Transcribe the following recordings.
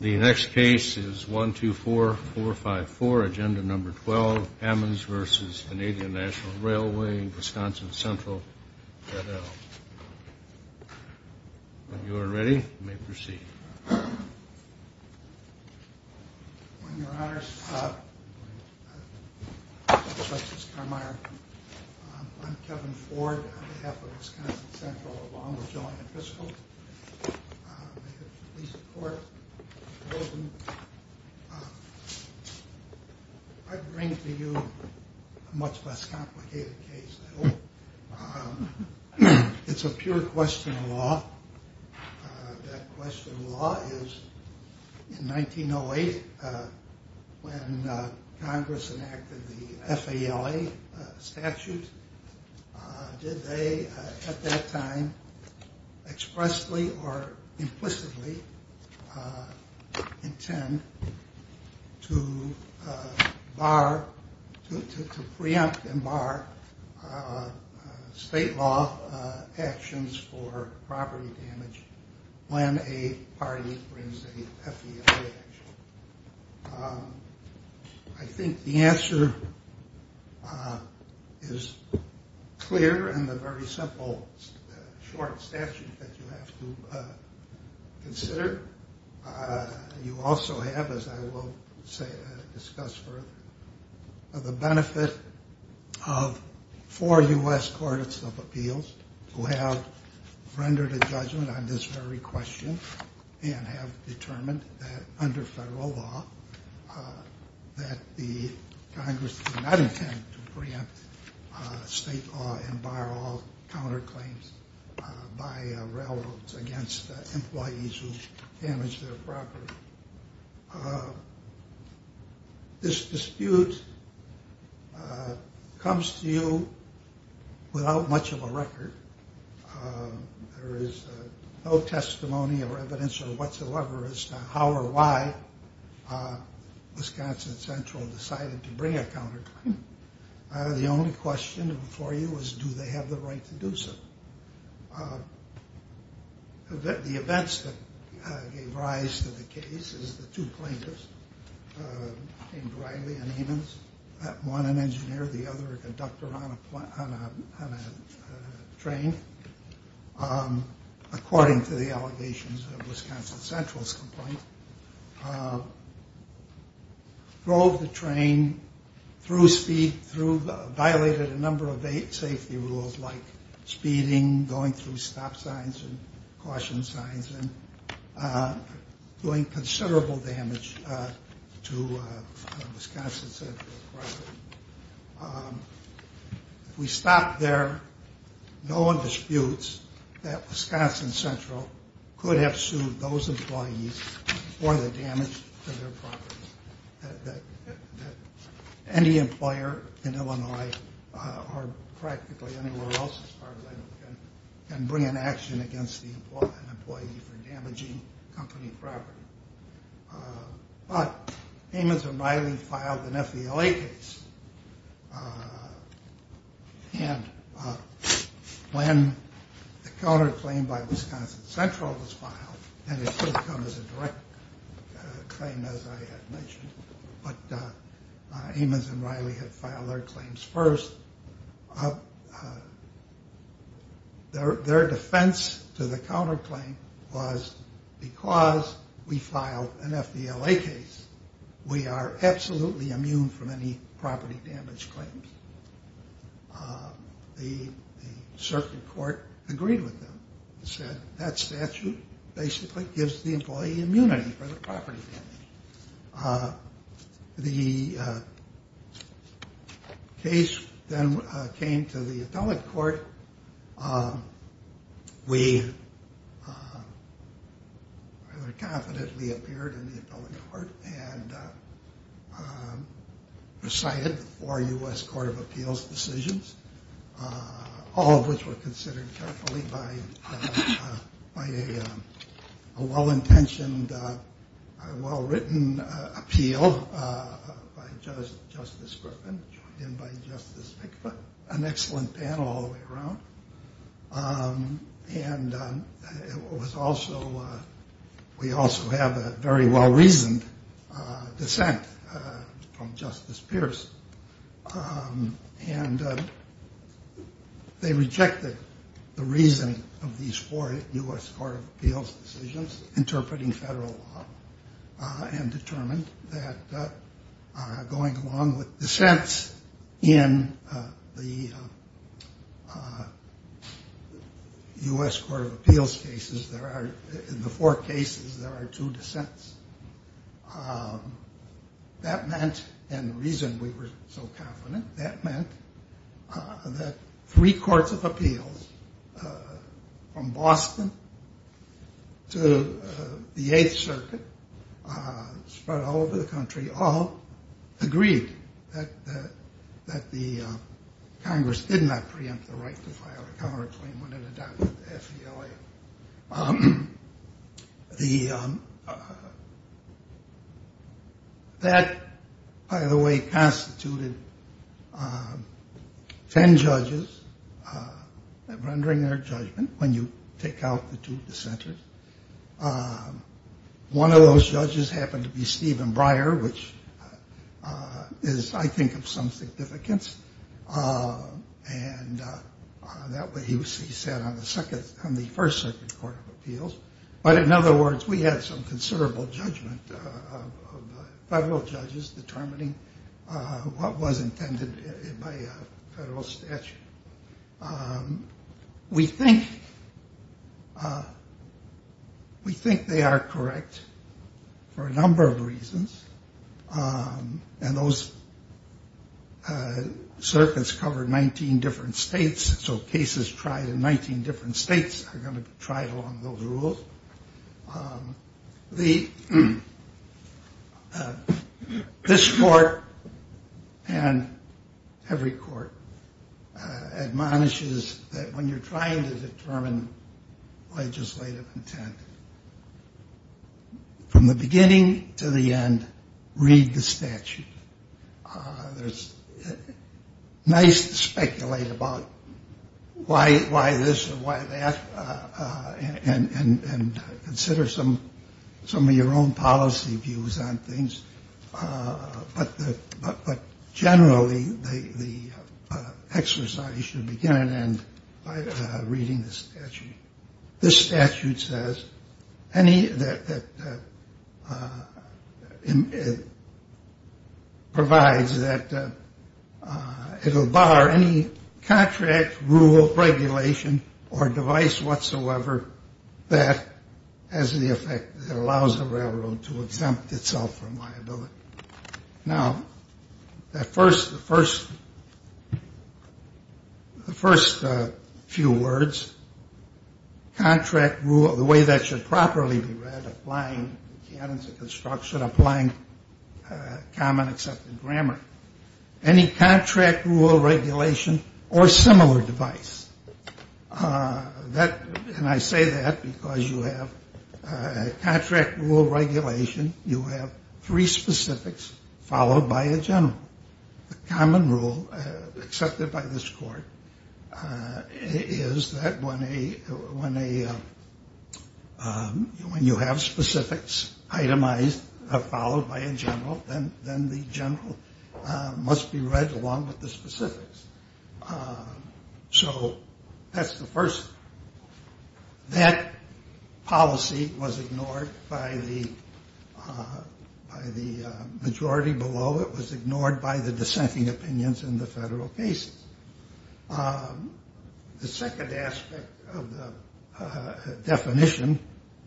The next case is 124454, Agenda No. 12, Ammons v. Canadian National Railway, Wisconsin Central, et al. If you are ready, you may proceed. On your honors, Justice Carminer, I'm Kevin Ford on behalf of Wisconsin Central, along with Joanne Fiskel. I bring to you a much less complicated case. It's a pure question of law. That question of law is, in 1908, when Congress enacted the FALA statute, did they, at that time, expressly or implicitly intend to bar, to preempt and bar, state law actions for property damage when a party brings a FDIC action? I think the answer is clear in the very simple, short statute that you have to consider. You also have, as I will discuss further, the benefit of four U.S. Courts of Appeals who have rendered a judgment on this very question and have determined that, under federal law, that the Congress did not intend to preempt state law and bar all counterclaims by railroads against employees who damage their property. This dispute comes to you without much of a record. There is no testimony or evidence whatsoever as to how or why Wisconsin Central decided to bring a counterclaim. The only question before you is, do they have the right to do so? The events that gave rise to the case is the two plaintiffs, named Riley and Eamons, one an engineer, the other a conductor on a train, according to the allegations of Wisconsin Central's complaint, drove the train, violated a number of safety rules like speeding, going through stop signs and caution signs, and doing considerable damage to Wisconsin Central's property. If we stop there, no one disputes that Wisconsin Central could have sued those employees for the damage to their property. Any employer in Illinois, or practically anywhere else as far as I know, can bring an action against an employee for damaging company property. But Eamons and Riley filed an FVLA case, and when the counterclaim by Wisconsin Central was filed, and it should have come as a direct claim as I had mentioned, but Eamons and Riley had filed their claims first, their defense to the counterclaim was, because we filed an FVLA case, we are absolutely immune from any property damage claims. The circuit court agreed with them, said that statute basically gives the employee immunity for the property damage. The case then came to the appellate court. We rather confidently appeared in the appellate court and decided for U.S. Court of Appeals decisions, all of which were considered carefully by a well-intentioned, a well-written appeal by Justice Griffin, joined in by Justice Pickford, an excellent panel all the way around. And it was also, we also have a very well-reasoned dissent from Justice Pierce. And they rejected the reasoning of these four U.S. Court of Appeals decisions, interpreting federal law, and determined that going along with dissents in the U.S. Court of Appeals cases, there are, in the four cases, there are two dissents. That meant, and the reason we were so confident, that meant that three courts of appeals, from Boston to the Eighth Circuit, spread all over the country, all agreed that the Congress did not preempt the right to file a counterclaim when it adopted the FVLA. That, by the way, constituted ten judges rendering their judgment when you take out the two dissenters. One of those judges happened to be Stephen Breyer, which is, I think, of some significance. And he sat on the first circuit court of appeals. But in other words, we had some considerable judgment of federal judges determining what was intended by federal statute. We think, we think they are correct for a number of reasons. And those circuits covered 19 different states, so cases tried in 19 different states are going to be tried along those rules. This court, and every court, admonishes that when you're trying to determine legislative intent, from the beginning to the end, read the statute. It's nice to speculate about why this or why that, and consider some of your own policy views on things. But generally, the exercise should begin and end by reading the statute. This statute says, provides that it will bar any contract, rule, regulation, or device whatsoever that has the effect that allows the railroad to exempt itself from liability. Now, the first few words, contract rule, the way that should properly be read, applying the canons of construction, applying common accepted grammar. Any contract, rule, regulation, or similar device. And I say that because you have contract, rule, regulation. You have three specifics followed by a general. The common rule accepted by this court is that when you have specifics itemized, followed by a general, then the general must be read along with the specifics. So that's the first. That policy was ignored by the majority below. It was ignored by the dissenting opinions in the federal cases. The second aspect of the definition,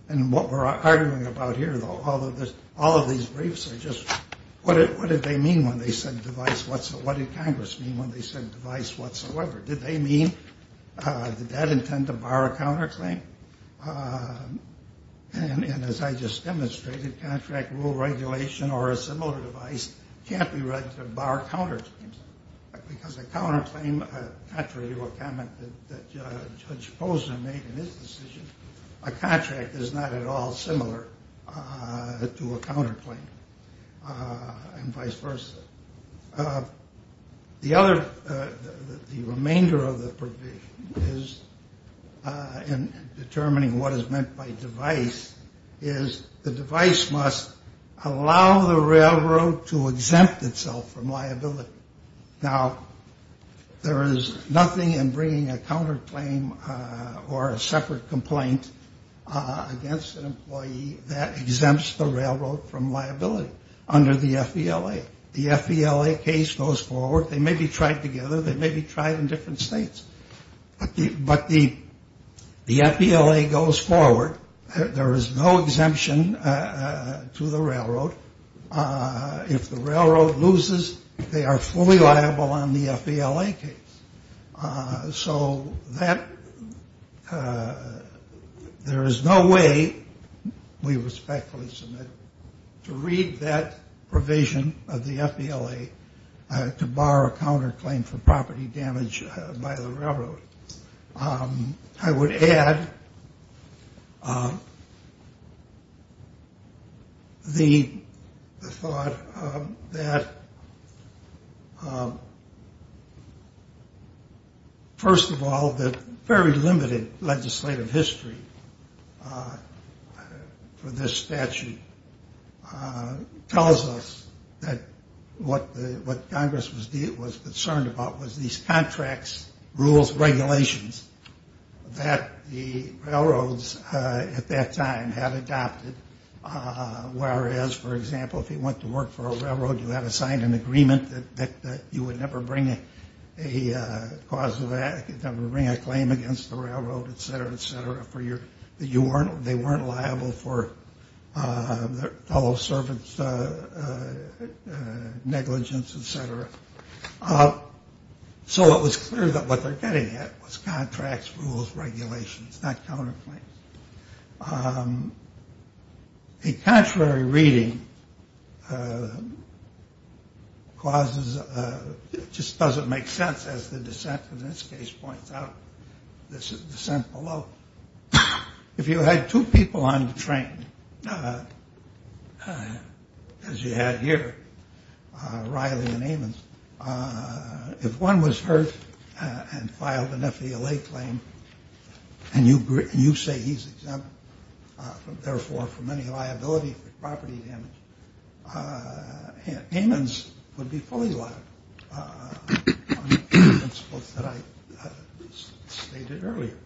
and what we're arguing about here, all of these briefs are just, what did they mean when they said device whatsoever? What did Congress mean when they said device whatsoever? Did they mean, did that intend to bar a counterclaim? And as I just demonstrated, contract rule, regulation, or a similar device can't be read to bar counterclaims. Because a counterclaim, contrary to a comment that Judge Posner made in his decision, a contract is not at all similar to a counterclaim and vice versa. The other, the remainder of the provision is in determining what is meant by device, is the device must allow the railroad to exempt itself from liability. Now, there is nothing in bringing a counterclaim or a separate complaint against an employee that exempts the railroad from liability under the FVLA. The FVLA case goes forward. They may be tried together. They may be tried in different states. But the FVLA goes forward. There is no exemption to the railroad. If the railroad loses, they are fully liable on the FVLA case. So that, there is no way, we respectfully submit, to read that provision of the FVLA to bar a counterclaim for property damage by the railroad. I would add the thought that, first of all, the very limited legislative history for this statute tells us that what Congress was concerned about was these contracts, rules, regulations that the railroads at that time had adopted, whereas, for example, if you went to work for a railroad, you had to sign an agreement that you would never bring a claim against the railroad, et cetera, et cetera, that they weren't liable for their fellow servants' negligence, et cetera. So it was clear that what they're getting at was contracts, rules, regulations, not counterclaims. A contrary reading causes, just doesn't make sense, as the dissent in this case points out. This is dissent below. If you had two people on the train, as you had here, Riley and Amons, if one was hurt and filed an FVLA claim, and you say he's exempt, therefore, from any liability for property damage, Amons would be fully liable on the principles that I stated earlier.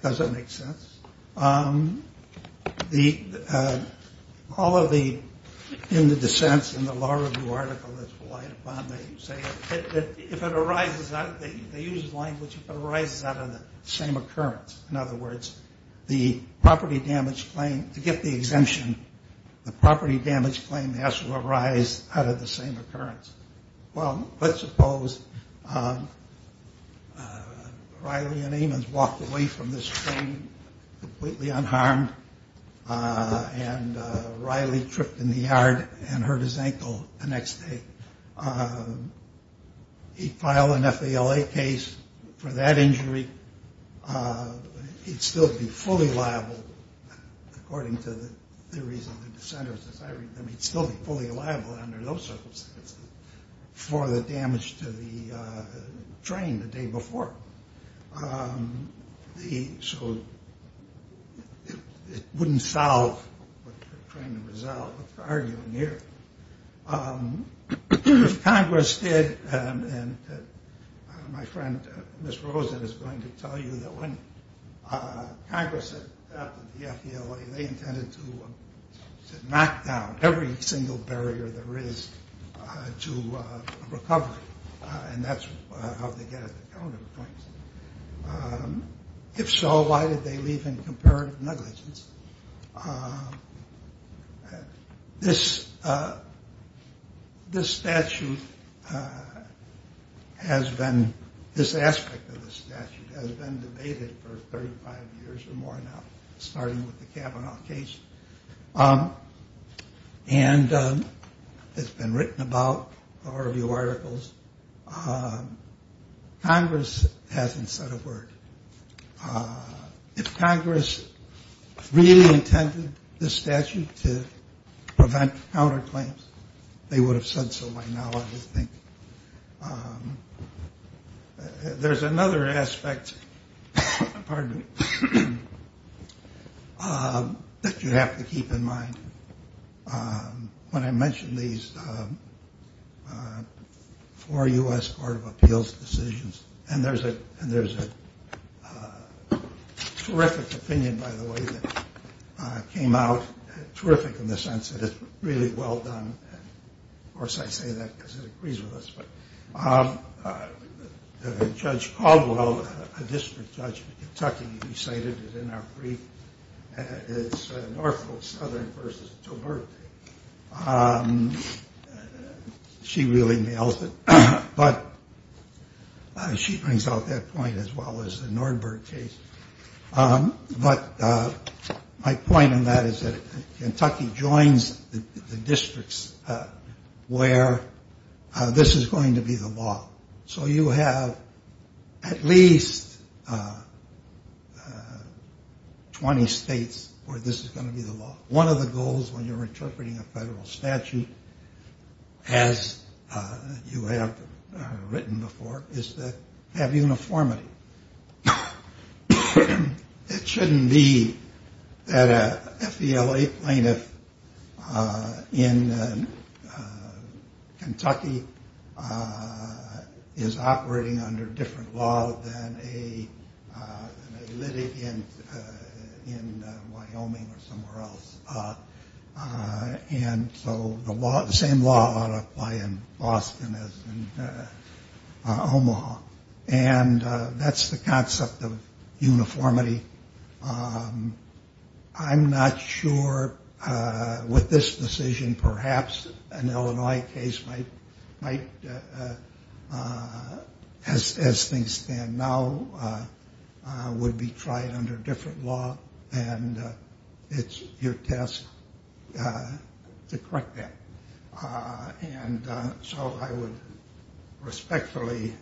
Does that make sense? All of the dissents in the law review article that's relied upon, they say that if it arises, they use the language, if it arises out of the same occurrence, in other words, the property damage claim, to get the exemption, the property damage claim has to arise out of the same occurrence. Well, let's suppose Riley and Amons walked away from this train completely unharmed, and Riley tripped in the yard and hurt his ankle the next day. He'd file an FVLA case for that injury. He'd still be fully liable, according to the theories of the dissenters, as I read them, he'd still be fully liable under those circumstances for the damage to the train the day before. So it wouldn't solve what you're trying to resolve, what you're arguing here. If Congress did, and my friend Ms. Rosen is going to tell you that when Congress adopted the FVLA, they intended to knock down every single barrier there is to recovery, and that's how they get at the counter claims. If so, why did they leave in comparative negligence? This statute has been, this aspect of the statute has been debated for 35 years or more now, starting with the Kavanaugh case, and it's been written about in a number of articles. Congress hasn't said a word. If Congress really intended this statute to prevent counter claims, they would have said so by now, I would think. There's another aspect, pardon me, that you have to keep in mind. When I mention these four U.S. Court of Appeals decisions, and there's a terrific opinion, by the way, that came out, terrific in the sense that it's really well done. Of course, I say that because it agrees with us. Judge Caldwell, a district judge in Kentucky, recited it in our brief. It's Norfolk Southern versus Tilburg. She really nails it, but she brings out that point as well as the Nordberg case. But my point on that is that Kentucky joins the districts where this is going to be the law. So you have at least 20 states where this is going to be the law. One of the goals when you're interpreting a federal statute, as you have written before, is to have uniformity. It shouldn't be that a FVLA plaintiff in Kentucky is operating under different law than a litigant in Wyoming or somewhere else. And so the same law ought to apply in Boston as in Omaha. And that's the concept of uniformity. I'm not sure with this decision perhaps an Illinois case might, as things stand now, would be tried under different law. And it's your task to correct that. And so I would respectfully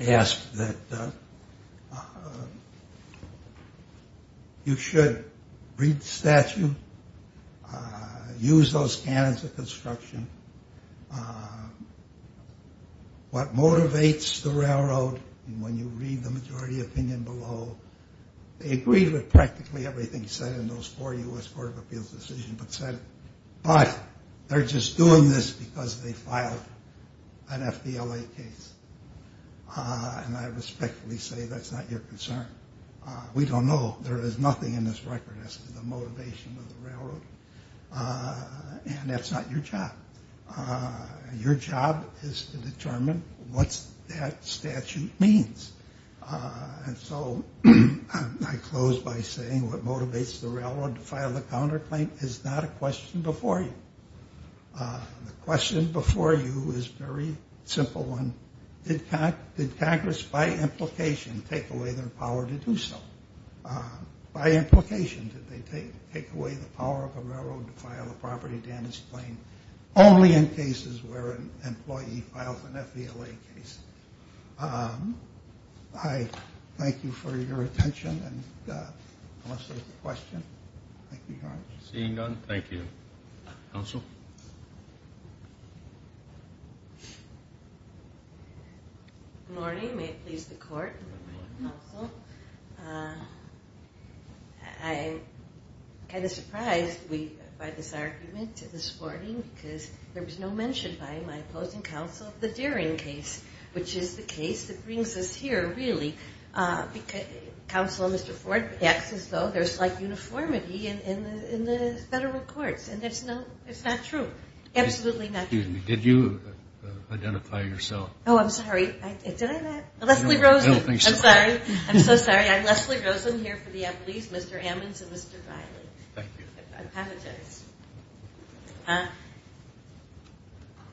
ask that you should read the statute, use those canons of construction, what motivates the railroad, and when you read the majority opinion below, they agree with practically everything said in those four U.S. Court of Appeals decisions, but they're just doing this because they filed an FVLA case. And I respectfully say that's not your concern. We don't know. There is nothing in this record as to the motivation of the railroad. And that's not your job. Your job is to determine what that statute means. And so I close by saying what motivates the railroad to file the counterclaim is not a question before you. The question before you is a very simple one. Did Congress, by implication, take away their power to do so? By implication, did they take away the power of the railroad to file a property damage claim only in cases where an employee files an FVLA case? I thank you for your attention. And unless there's a question, thank you very much. Seeing none, thank you. Counsel? Good morning. May it please the Court? Good morning, counsel. I'm kind of surprised by this argument this morning because there was no mention by my opposing counsel of the Deering case, which is the case that brings us here, really. Counsel, Mr. Ford acts as though there's, like, uniformity in the federal courts. And it's not true. Absolutely not true. Excuse me. Did you identify yourself? Oh, I'm sorry. Did I not? Leslie Rosen. I don't think so. I'm sorry. I'm so sorry. I'm Leslie Rosen here for the employees, Mr. Ammons and Mr. Riley. Thank you. I apologize.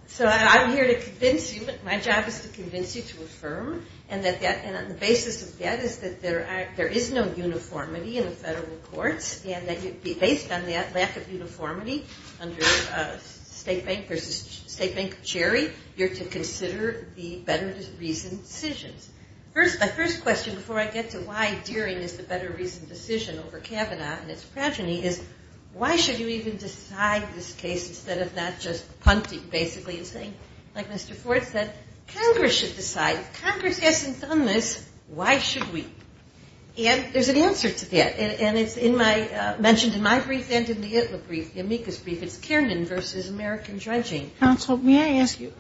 So I'm here to convince you. My job is to convince you to affirm. And on the basis of that is that there is no uniformity in the federal courts and that based on that lack of uniformity under State Bank versus State Bank of Cherry, you're to consider the better-reasoned decisions. My first question before I get to why Deering is the better-reasoned decision over Kavanaugh and its progeny is why should you even decide this case instead of not just punting, basically, and saying, like Mr. Ford said, Congress should decide. If Congress hasn't done this, why should we? And there's an answer to that. And it's mentioned in my brief and in the ITLA brief, the amicus brief. It's Kiernan versus American dredging. Counsel, may I ask you,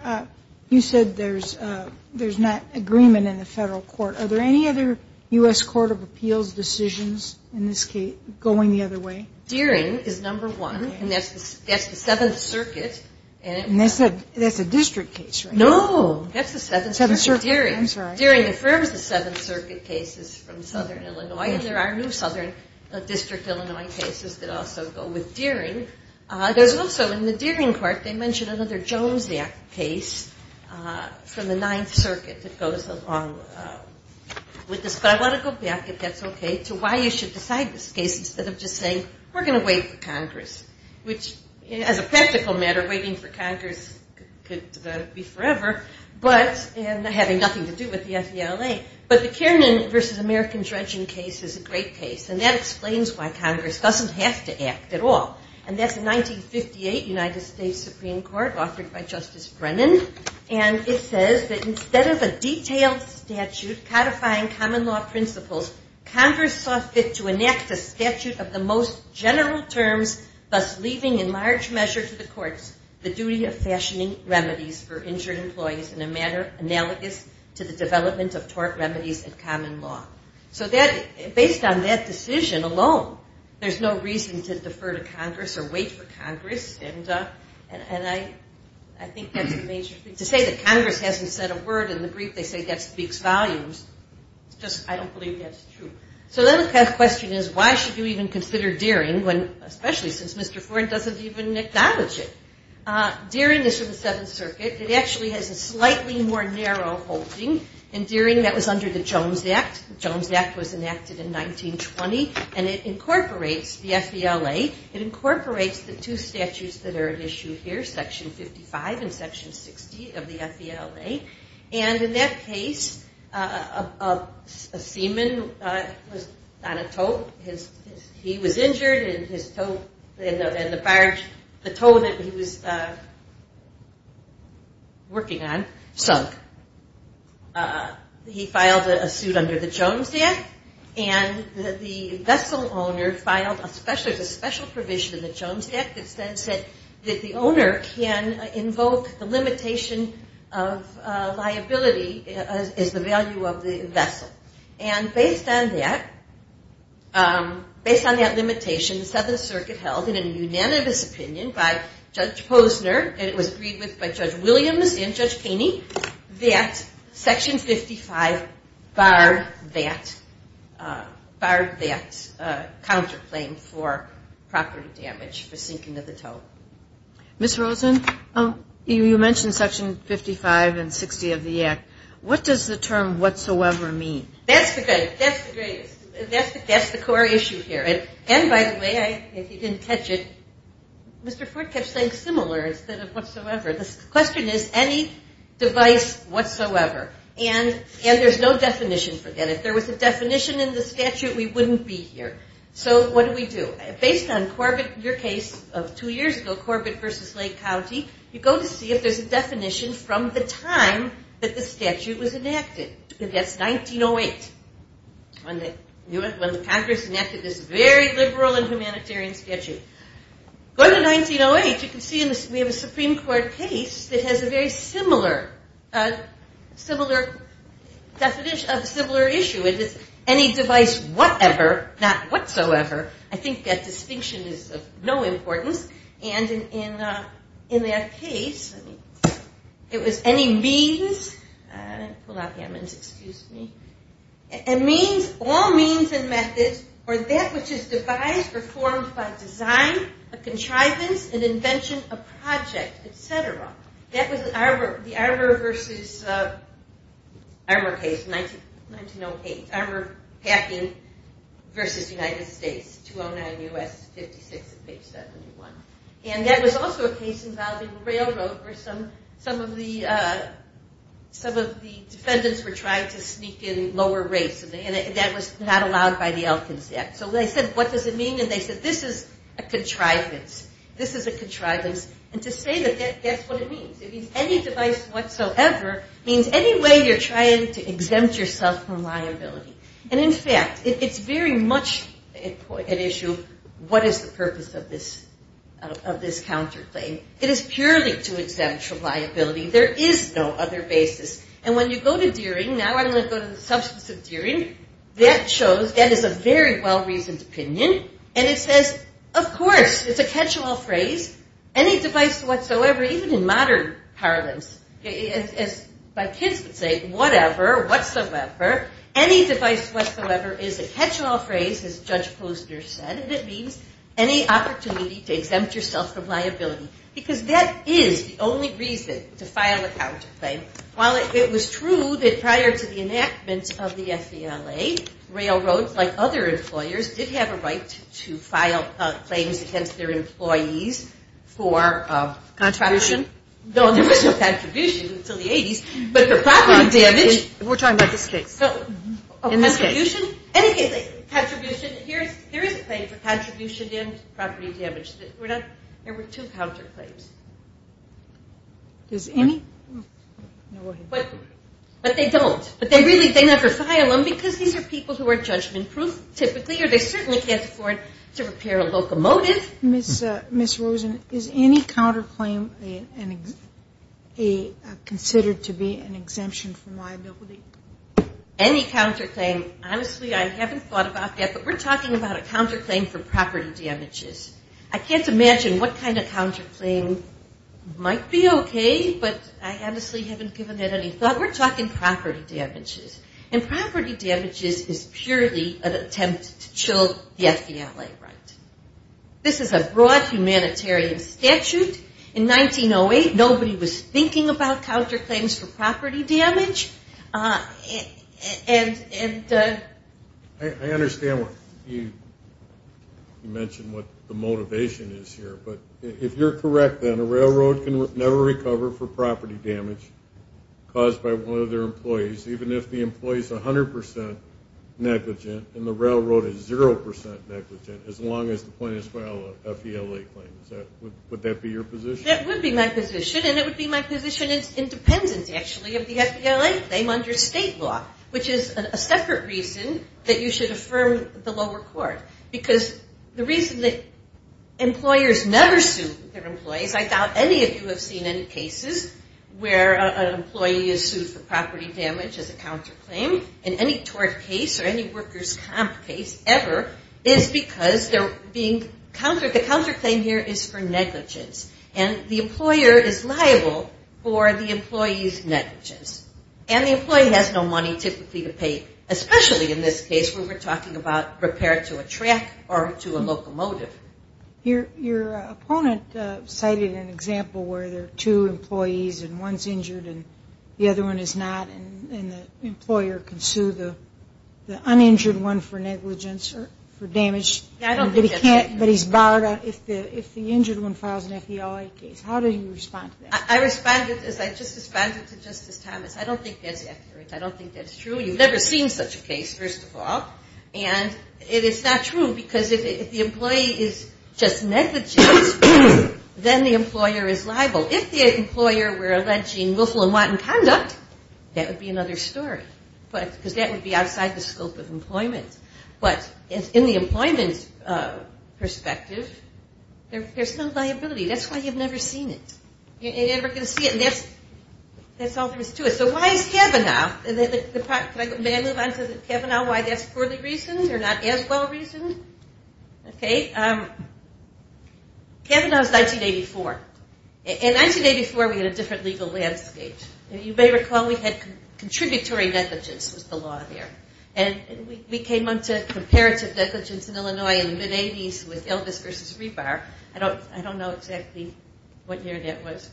you said there's not agreement in the federal court. Are there any other U.S. Court of Appeals decisions in this case going the other way? Deering is number one, and that's the Seventh Circuit. And that's a district case, right? No. That's the Seventh Circuit. I'm sorry. Deering affirms the Seventh Circuit cases from Southern Illinois, and there are new Southern District Illinois cases that also go with Deering. There's also in the Deering court, they mention another Jones Act case from the Ninth Circuit that goes along with this. But I want to go back, if that's okay, to why you should decide this case instead of just saying, we're going to wait for Congress, which, as a practical matter, waiting for Congress could be forever, and having nothing to do with the FDLA. But the Kiernan versus American dredging case is a great case, and that explains why Congress doesn't have to act at all. And that's the 1958 United States Supreme Court, authored by Justice Brennan. And it says that instead of a detailed statute codifying common law principles, Congress saw fit to enact a statute of the most general terms, thus leaving in large measure to the courts the duty of fashioning remedies for injured employees in a manner analogous to the development of tort remedies and common law. So based on that decision alone, there's no reason to defer to Congress or wait for Congress. And I think that's a major thing. To say that Congress hasn't said a word in the brief, they say that speaks volumes. It's just I don't believe that's true. So the other question is, why should you even consider Deering, especially since Mr. Ford doesn't even acknowledge it? Deering is from the Seventh Circuit. It actually has a slightly more narrow holding. In Deering, that was under the Jones Act. The Jones Act was enacted in 1920, and it incorporates the FDLA. It incorporates the two statutes that are at issue here, Section 55 and Section 60 of the FDLA. And in that case, a seaman was on a tow. He was injured, and the tow that he was working on sunk. He filed a suit under the Jones Act, and the vessel owner filed a special provision in the Jones Act that says that the owner can invoke the limitation of liability as the value of the vessel. And based on that, based on that limitation, the Seventh Circuit held in a unanimous opinion by Judge Posner, and it was agreed with by Judge Williams and Judge Kaney, that Section 55 barred that counterclaim for property damage for sinking of the tow. Ms. Rosen, you mentioned Section 55 and 60 of the Act. What does the term whatsoever mean? That's the core issue here. And by the way, if you didn't catch it, Mr. Ford kept saying similar. The question is any device whatsoever. And there's no definition for that. If there was a definition in the statute, we wouldn't be here. So what do we do? Based on your case of two years ago, Corbett v. Lake County, you go to see if there's a definition from the time that the statute was enacted. That's 1908 when Congress enacted this very liberal and humanitarian statute. Going to 1908, you can see we have a Supreme Court case that has a very similar definition of a similar issue. It is any device whatever, not whatsoever. I think that distinction is of no importance. And in that case, it was any means, all means and methods or that which is devised or formed by design, a contrivance, an invention, a project, et cetera. That was the Arbor v. Arbor packing v. United States, 209 U.S., 56 and page 71. And that was also a case involving railroad where some of the defendants were trying to sneak in lower rates. And that was not allowed by the Elkins Act. So they said, what does it mean? And they said, this is a contrivance. This is a contrivance. And to say that that's what it means. It means any device whatsoever means any way you're trying to exempt yourself from liability. And, in fact, it's very much an issue, what is the purpose of this counterclaim? It is purely to exempt from liability. There is no other basis. And when you go to Deering, now I'm going to go to the substance of Deering, that shows that is a very well-reasoned opinion. And it says, of course, it's a catch-all phrase, any device whatsoever, even in modern parlance, as my kids would say, whatever, whatsoever, any device whatsoever is a catch-all phrase, as Judge Posner said, and it means any opportunity to exempt yourself from liability. Because that is the only reason to file a counterclaim. While it was true that prior to the enactment of the FELA, railroads, like other employers, did have a right to file claims against their employees for contribution. No, there was no contribution until the 80s. But for property damage. We're talking about this case. In this case. Contribution. Here is a claim for contribution and property damage. There were two counterclaims. But they don't. But they never file them because these are people who are judgment-proof, typically, or they certainly can't afford to repair a locomotive. Ms. Rosen, is any counterclaim considered to be an exemption from liability? Any counterclaim. Honestly, I haven't thought about that. But we're talking about a counterclaim for property damages. I can't imagine what kind of counterclaim might be okay. But I honestly haven't given it any thought. We're talking property damages. And property damages is purely an attempt to chill the FELA right. This is a broad humanitarian statute. In 1908, nobody was thinking about counterclaims for property damage. I understand what you mentioned, what the motivation is here. But if you're correct, then a railroad can never recover for property damage caused by one of their employees, even if the employee is 100% negligent and the railroad is 0% negligent, as long as the plaintiffs file a FELA claim. Would that be your position? That would be my position. And it would be my position in dependence, actually, of the FELA claim under state law, which is a separate reason that you should affirm the lower court. Because the reason that employers never sue their employees, I doubt any of you have seen any cases where an employee is sued for property damage as a counterclaim in any tort case or any workers' comp case ever, is because they're being countered. The counterclaim here is for negligence. And the employer is liable for the employee's negligence. And the employee has no money, typically, to pay, especially in this case where we're talking about repair to a track or to a locomotive. Your opponent cited an example where there are two employees and one's injured and the other one is not, and the employer can sue the uninjured one for negligence or for damage. I don't think that's right. But he's barred if the injured one files an FELA case. How do you respond to that? I just responded to Justice Thomas. I don't think that's accurate. I don't think that's true. You've never seen such a case, first of all. And it is not true because if the employee is just negligent, then the employer is liable. If the employer were alleging willful and wanton conduct, that would be another story because that would be outside the scope of employment. But in the employment perspective, there's no liability. That's why you've never seen it. You're never going to see it. And that's all there is to it. So why is Kavanaugh? May I move on to Kavanaugh, why that's poorly reasoned or not as well reasoned? Okay. Kavanaugh is 1984. In 1984, we had a different legal landscape. You may recall we had contributory negligence was the law there. And we came on to comparative negligence in Illinois in the mid-'80s with Elvis versus Rebar. I don't know exactly what year that was,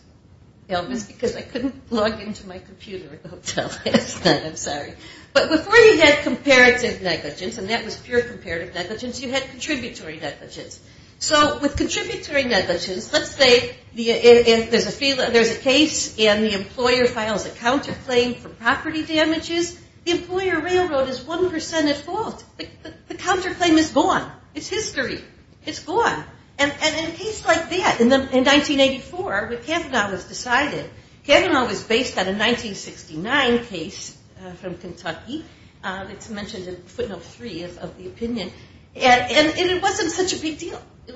Elvis, because I couldn't log into my computer until after that. I'm sorry. But before you had comparative negligence, and that was pure comparative negligence, you had contributory negligence. So with contributory negligence, let's say there's a case and the employer files a counterclaim for property damages. The employer railroad is 1% at fault. The counterclaim is gone. It's history. It's gone. And in a case like that in 1984, what Kavanaugh has decided, Kavanaugh was based on a 1969 case from Kentucky. It's mentioned in footnote three of the opinion. And it wasn't such a big deal. It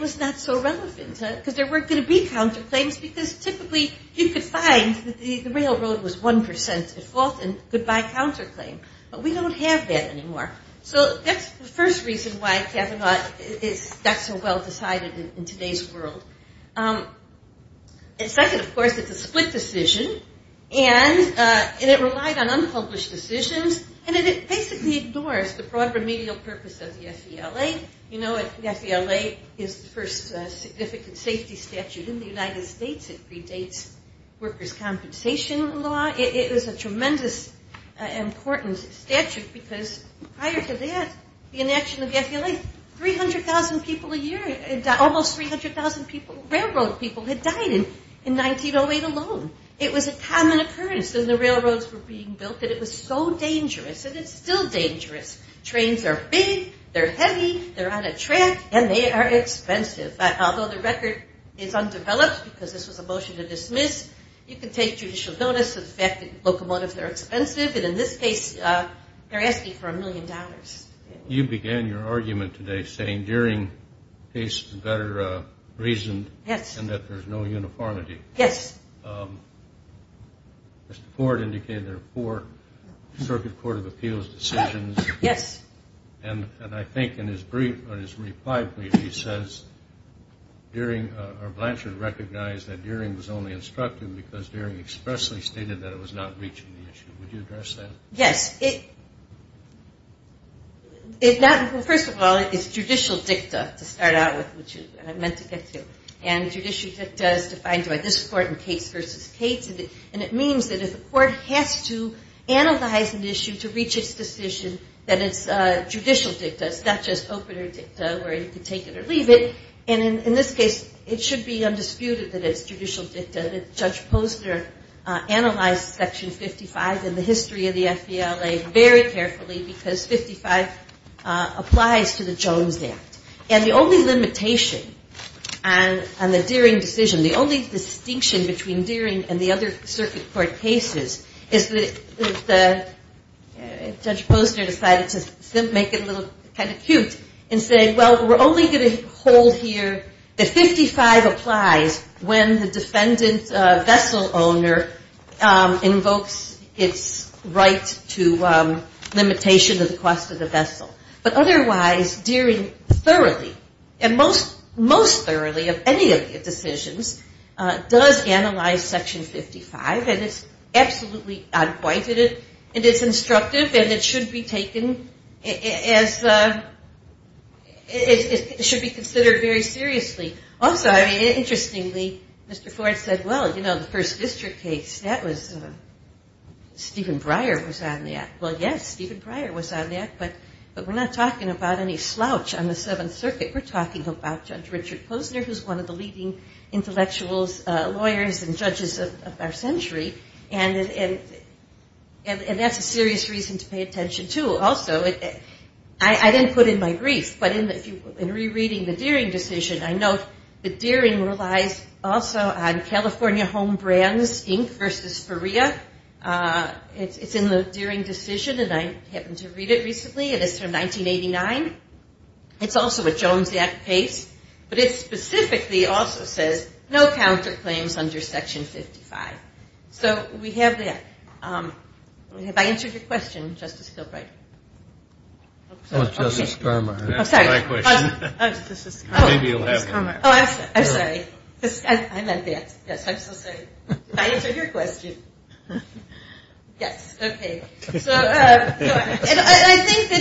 was not so relevant because there weren't going to be counterclaims because typically you could find that the railroad was 1% at fault and could buy counterclaim. But we don't have that anymore. So that's the first reason why Kavanaugh got so well decided in today's world. And second, of course, it's a split decision, and it relied on unpublished decisions, and it basically ignores the broad remedial purpose of the FVLA. You know, the FVLA is the first significant safety statute in the United States. It predates workers' compensation law. It is a tremendous important statute because prior to that, the inaction of the FVLA, 300,000 people a year, almost 300,000 people, railroad people had died in 1908 alone. It was a common occurrence that the railroads were being built, that it was so dangerous, and it's still dangerous. Trains are big. They're heavy. They're out of track, and they are expensive. Although the record is undeveloped because this was a motion to dismiss, you can take judicial notice of the fact that locomotives are expensive, and in this case, they're asking for a million dollars. You began your argument today saying during cases of better reason and that there's no uniformity. Yes. Mr. Ford indicated there are four Circuit Court of Appeals decisions. Yes. And I think in his reply brief, he says Blanchard recognized that Deering was only instructed because Deering expressly stated that it was not reaching the issue. Would you address that? Yes. First of all, it's judicial dicta to start out with, which I meant to get to, and judicial dicta is defined by this court in Case v. Cates, and it means that if a court has to analyze an issue to reach its decision, that it's judicial dicta. It's not just open or dicta where you can take it or leave it. And in this case, it should be undisputed that it's judicial dicta. Judge Posner analyzed Section 55 in the history of the FBLA very carefully because 55 applies to the Jones Act. And the only limitation on the Deering decision, the only distinction between Deering and the other circuit court cases, is that Judge Posner decided to make it a little kind of cute and say, well, we're only going to hold here that 55 applies when the defendant vessel owner invokes its right to limitation of the cost of the vessel. But otherwise, Deering thoroughly and most thoroughly of any of the decisions does analyze Section 55, and it's absolutely out of point in it, and it's instructive, and it should be taken as the – it should be considered very seriously. Also, I mean, interestingly, Mr. Ford said, well, you know, the first district case, that was – Stephen Breyer was on that. Well, yes, Stephen Breyer was on that, but we're not talking about any slouch on the Seventh Circuit. We're talking about Judge Richard Posner, who's one of the leading intellectuals, lawyers, and judges of our century. And that's a serious reason to pay attention to. Also, I didn't put in my briefs, but in rereading the Deering decision, I note that Deering relies also on California Home Brands, Inc. versus Ferrea. It's in the Deering decision, and I happened to read it recently. It is from 1989. It's also a Jones Act case, but it specifically also says, no counterclaims under Section 55. So we have that. Have I answered your question, Justice Gilbride? Oh, Justice Skarma. Oh, sorry. That's my question. Justice Skarma. Oh, I'm sorry. I meant that. Yes, I'm so sorry. Did I answer your question? Yes. Okay. I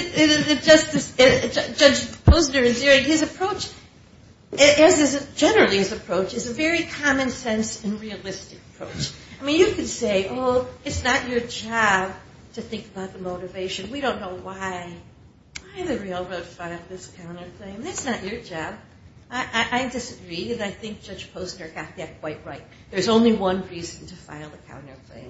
think that Judge Posner and Deering, his approach, generally his approach, is a very common sense and realistic approach. I mean, you could say, oh, it's not your job to think about the motivation. We don't know why the railroad filed this counterclaim. That's not your job. I disagree, and I think Judge Posner got that quite right. There's only one reason to file the counterclaim.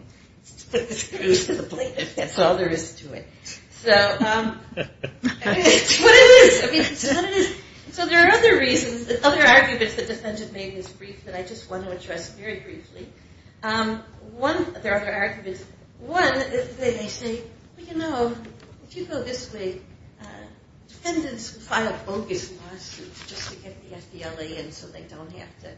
Put the screws to the plate, if that's all there is to it. So what it is, I mean, so there are other reasons, other arguments that defendants made in this brief that I just want to address very briefly. There are other arguments. One, they say, well, you know, if you go this way, defendants file bogus lawsuits just to get the FDLA in so they don't have to,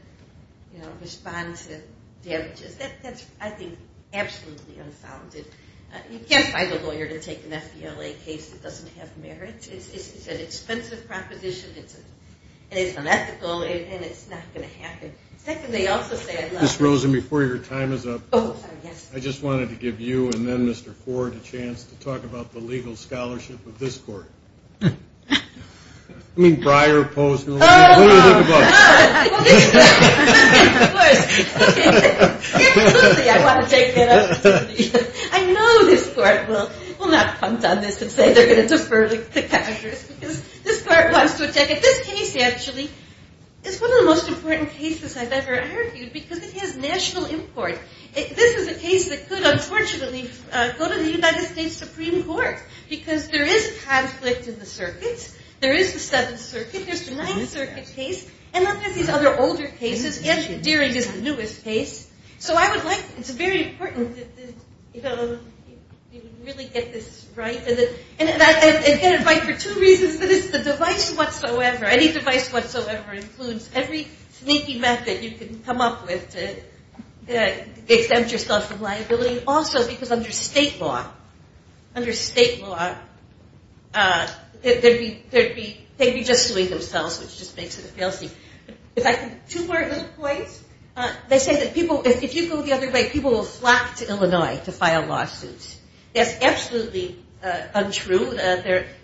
you know, respond to damages. That's, I think, absolutely unfounded. You can't find a lawyer to take an FDLA case that doesn't have merits. It's an expensive proposition, and it's unethical, and it's not going to happen. Second, they also say, I love it. Ms. Rosen, before your time is up, I just wanted to give you and then Mr. Ford a chance to talk about the legal scholarship of this court. I mean, Breyer, Posner. I know this court will not punt on this and say they're going to defer the captures because this court wants to attack it. This case, actually, is one of the most important cases I've ever argued because it has national import. This is a case that could, unfortunately, go to the United States Supreme Court because there is a conflict in the circuits. There is the Seventh Circuit. There's the Ninth Circuit case, and then there's these other older cases, and Deering is the newest case. So I would like, it's very important to really get this right. And get it right for two reasons. The device whatsoever, any device whatsoever includes every sneaky method you can come up with to exempt yourself from liability. Also, because under state law, they'd be just suing themselves, which just makes it a fail-suit. Two more little points. They say that if you go the other way, people will flock to Illinois to file lawsuits. That's absolutely untrue.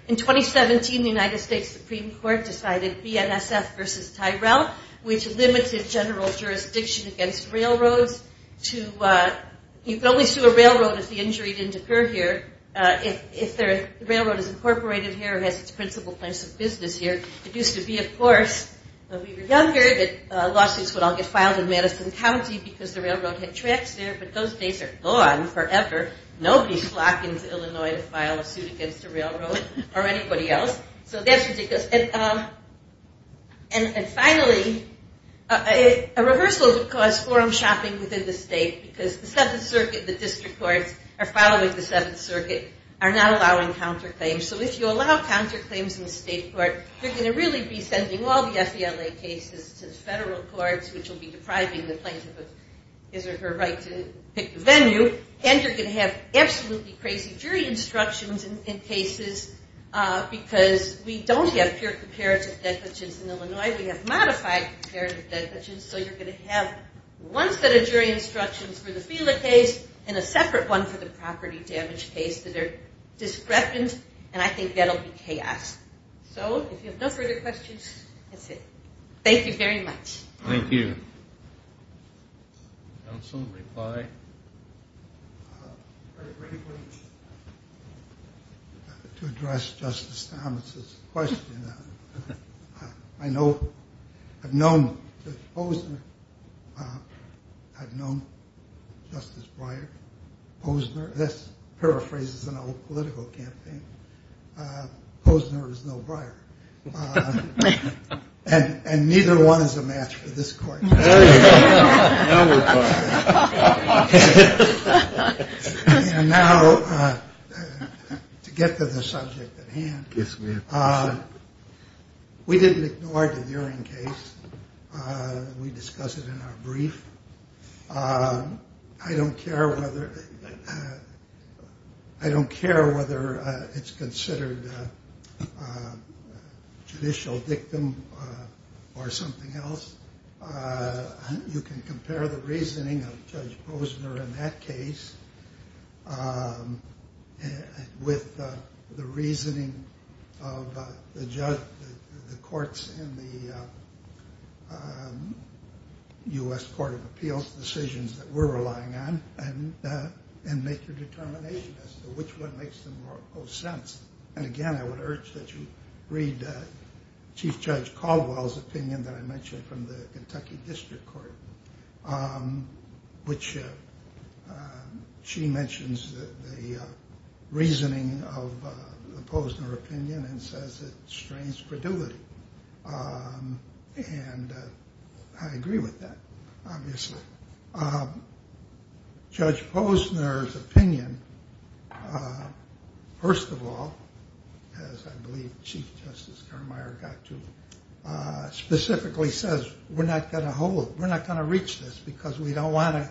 In 2017, the United States Supreme Court decided BNSF versus Tyrell, which limited general jurisdiction against railroads. You could always sue a railroad if the injury didn't occur here. If the railroad is incorporated here or has its principal place of business here. It used to be, of course, when we were younger that lawsuits would all get filed in Madison County because the railroad had tracks there, but those days are gone forever. Nobody's flocking to Illinois to file a suit against a railroad or anybody else. So that's ridiculous. And finally, a rehearsal would cause forum shopping within the state because the Seventh Circuit, the district courts are following the Seventh Circuit, are not allowing counterclaims. So if you allow counterclaims in the state court, you're going to really be sending all the FBLA cases to the federal courts, which will be depriving the plaintiff of his or her right to pick the venue, and you're going to have absolutely crazy jury instructions in cases because we don't have pure comparative negligence in Illinois. We have modified comparative negligence. So you're going to have one set of jury instructions for the FBLA case and a separate one for the property damage case that are discrepant, and I think that will be chaos. So if you have no further questions, that's it. Thank you very much. Thank you. Counsel, reply. To address Justice Thomas' question, I know, I've known Justice Posner. I've known Justice Breyer. Posner, this paraphrases an old political campaign. Posner is no Breyer. And neither one is a match for this court. And now, to get to the subject at hand, we didn't ignore the urine case. We discussed it in our brief. I don't care whether it's considered a judicial victim or something else. You can compare the reasoning of Judge Posner in that case with the reasoning of the courts in the U.S. Court of Appeals, decisions that we're relying on, and make your determination as to which one makes the most sense. And, again, I would urge that you read Chief Judge Caldwell's opinion that I mentioned from the Kentucky District Court, which she mentions the reasoning of the Posner opinion and says it strains credulity. And I agree with that, obviously. Judge Posner's opinion, first of all, as I believe Chief Justice Carmeier got to, specifically says we're not going to hold, we're not going to reach this because we don't want to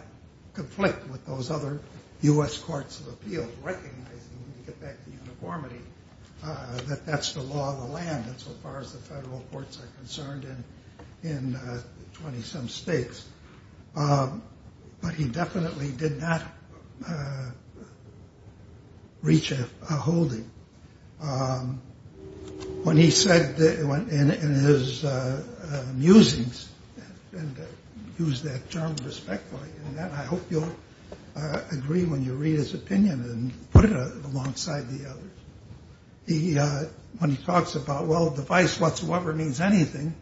conflict with those other U.S. Courts of Appeals, recognizing, when you get back to uniformity, that that's the law of the land insofar as the federal courts are concerned in 20-some states. But he definitely did not reach a holding. When he said in his musings, and I use that term respectfully, and I hope you'll agree when you read his opinion and put it alongside the others, when he talks about, well, the vice whatsoever means anything,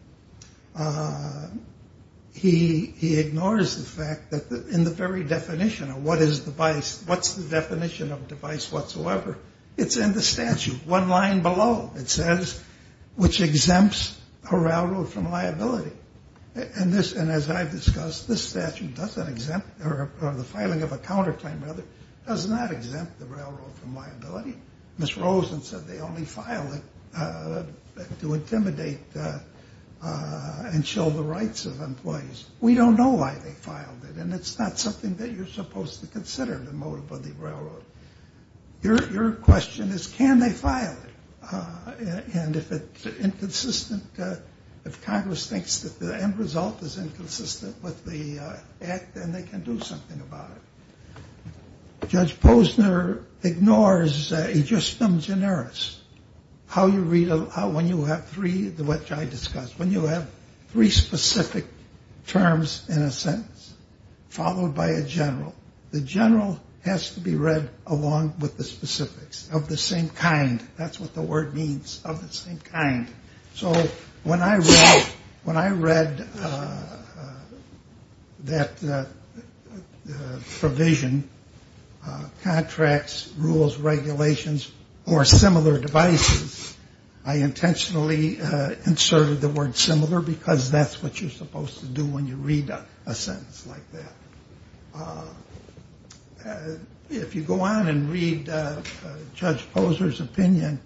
he ignores the fact that in the very definition of what is the vice, what's the definition of the vice whatsoever, it's in the statute, one line below. It says, which exempts a railroad from liability. And as I've discussed, this statute doesn't exempt, or the filing of a counterclaim, rather, does not exempt the railroad from liability. Ms. Rosen said they only file it to intimidate and show the rights of employees. We don't know why they filed it, and it's not something that you're supposed to consider, the motive of the railroad. Your question is, can they file it? And if it's inconsistent, if Congress thinks that the end result is inconsistent with the act, then they can do something about it. Judge Posner ignores a justum generis, how you read a law when you have three, which I discussed, when you have three specific terms in a sentence, followed by a general. The general has to be read along with the specifics of the same kind. That's what the word means, of the same kind. So when I read that provision, contracts, rules, regulations, or similar devices, I intentionally inserted the word similar because that's what you're supposed to do when you read a sentence like that. If you go on and read Judge Posner's opinion,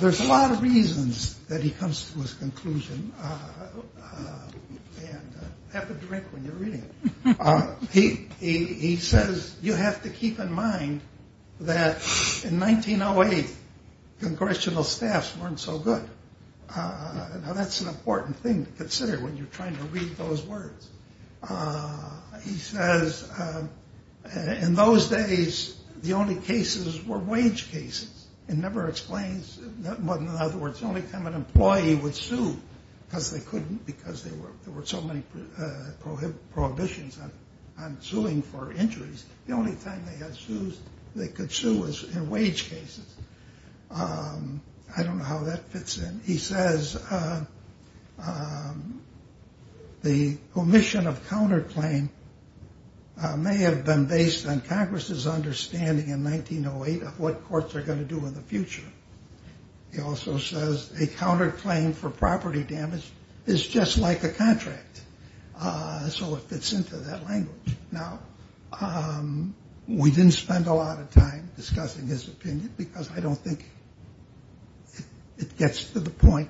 there's a lot of reasons that he comes to this conclusion. And have a drink when you're reading it. He says, you have to keep in mind that in 1908, congressional staffs weren't so good. Now, that's an important thing to consider when you're trying to read those words. He says, in those days, the only cases were wage cases. It never explains what, in other words, the only time an employee would sue, because there were so many prohibitions on suing for injuries, the only time they had sues they could sue was in wage cases. I don't know how that fits in. He says, the omission of counterclaim may have been based on Congress's understanding in 1908 of what courts are going to do in the future. He also says, a counterclaim for property damage is just like a contract. So it fits into that language. Now, we didn't spend a lot of time discussing his opinion because I don't think it gets to the point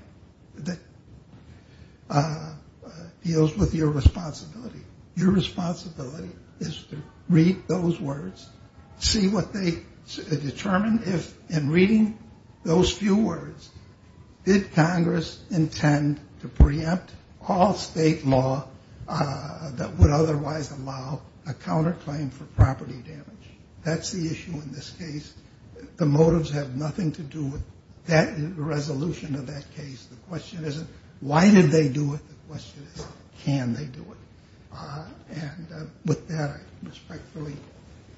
that deals with your responsibility. Your responsibility is to read those words, see what they determine, and reading those few words, did Congress intend to preempt all state law that would otherwise allow a counterclaim for property damage? That's the issue in this case. The motives have nothing to do with the resolution of that case. The question isn't, why did they do it? The question is, can they do it? And with that, I respectfully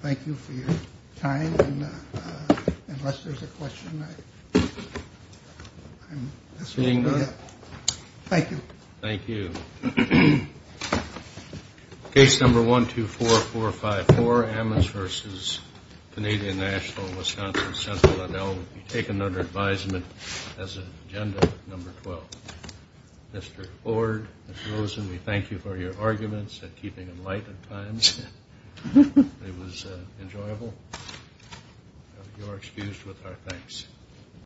thank you for your time. And unless there's a question, I'm going to leave it. Thank you. Thank you. Case number 124454, Ammons v. Canadian National, Wisconsin Central. And I'll take another advisement as an agenda, number 12. Mr. Ford, Ms. Rosen, we thank you for your arguments and keeping them light at times. It was enjoyable. You're excused with our thanks.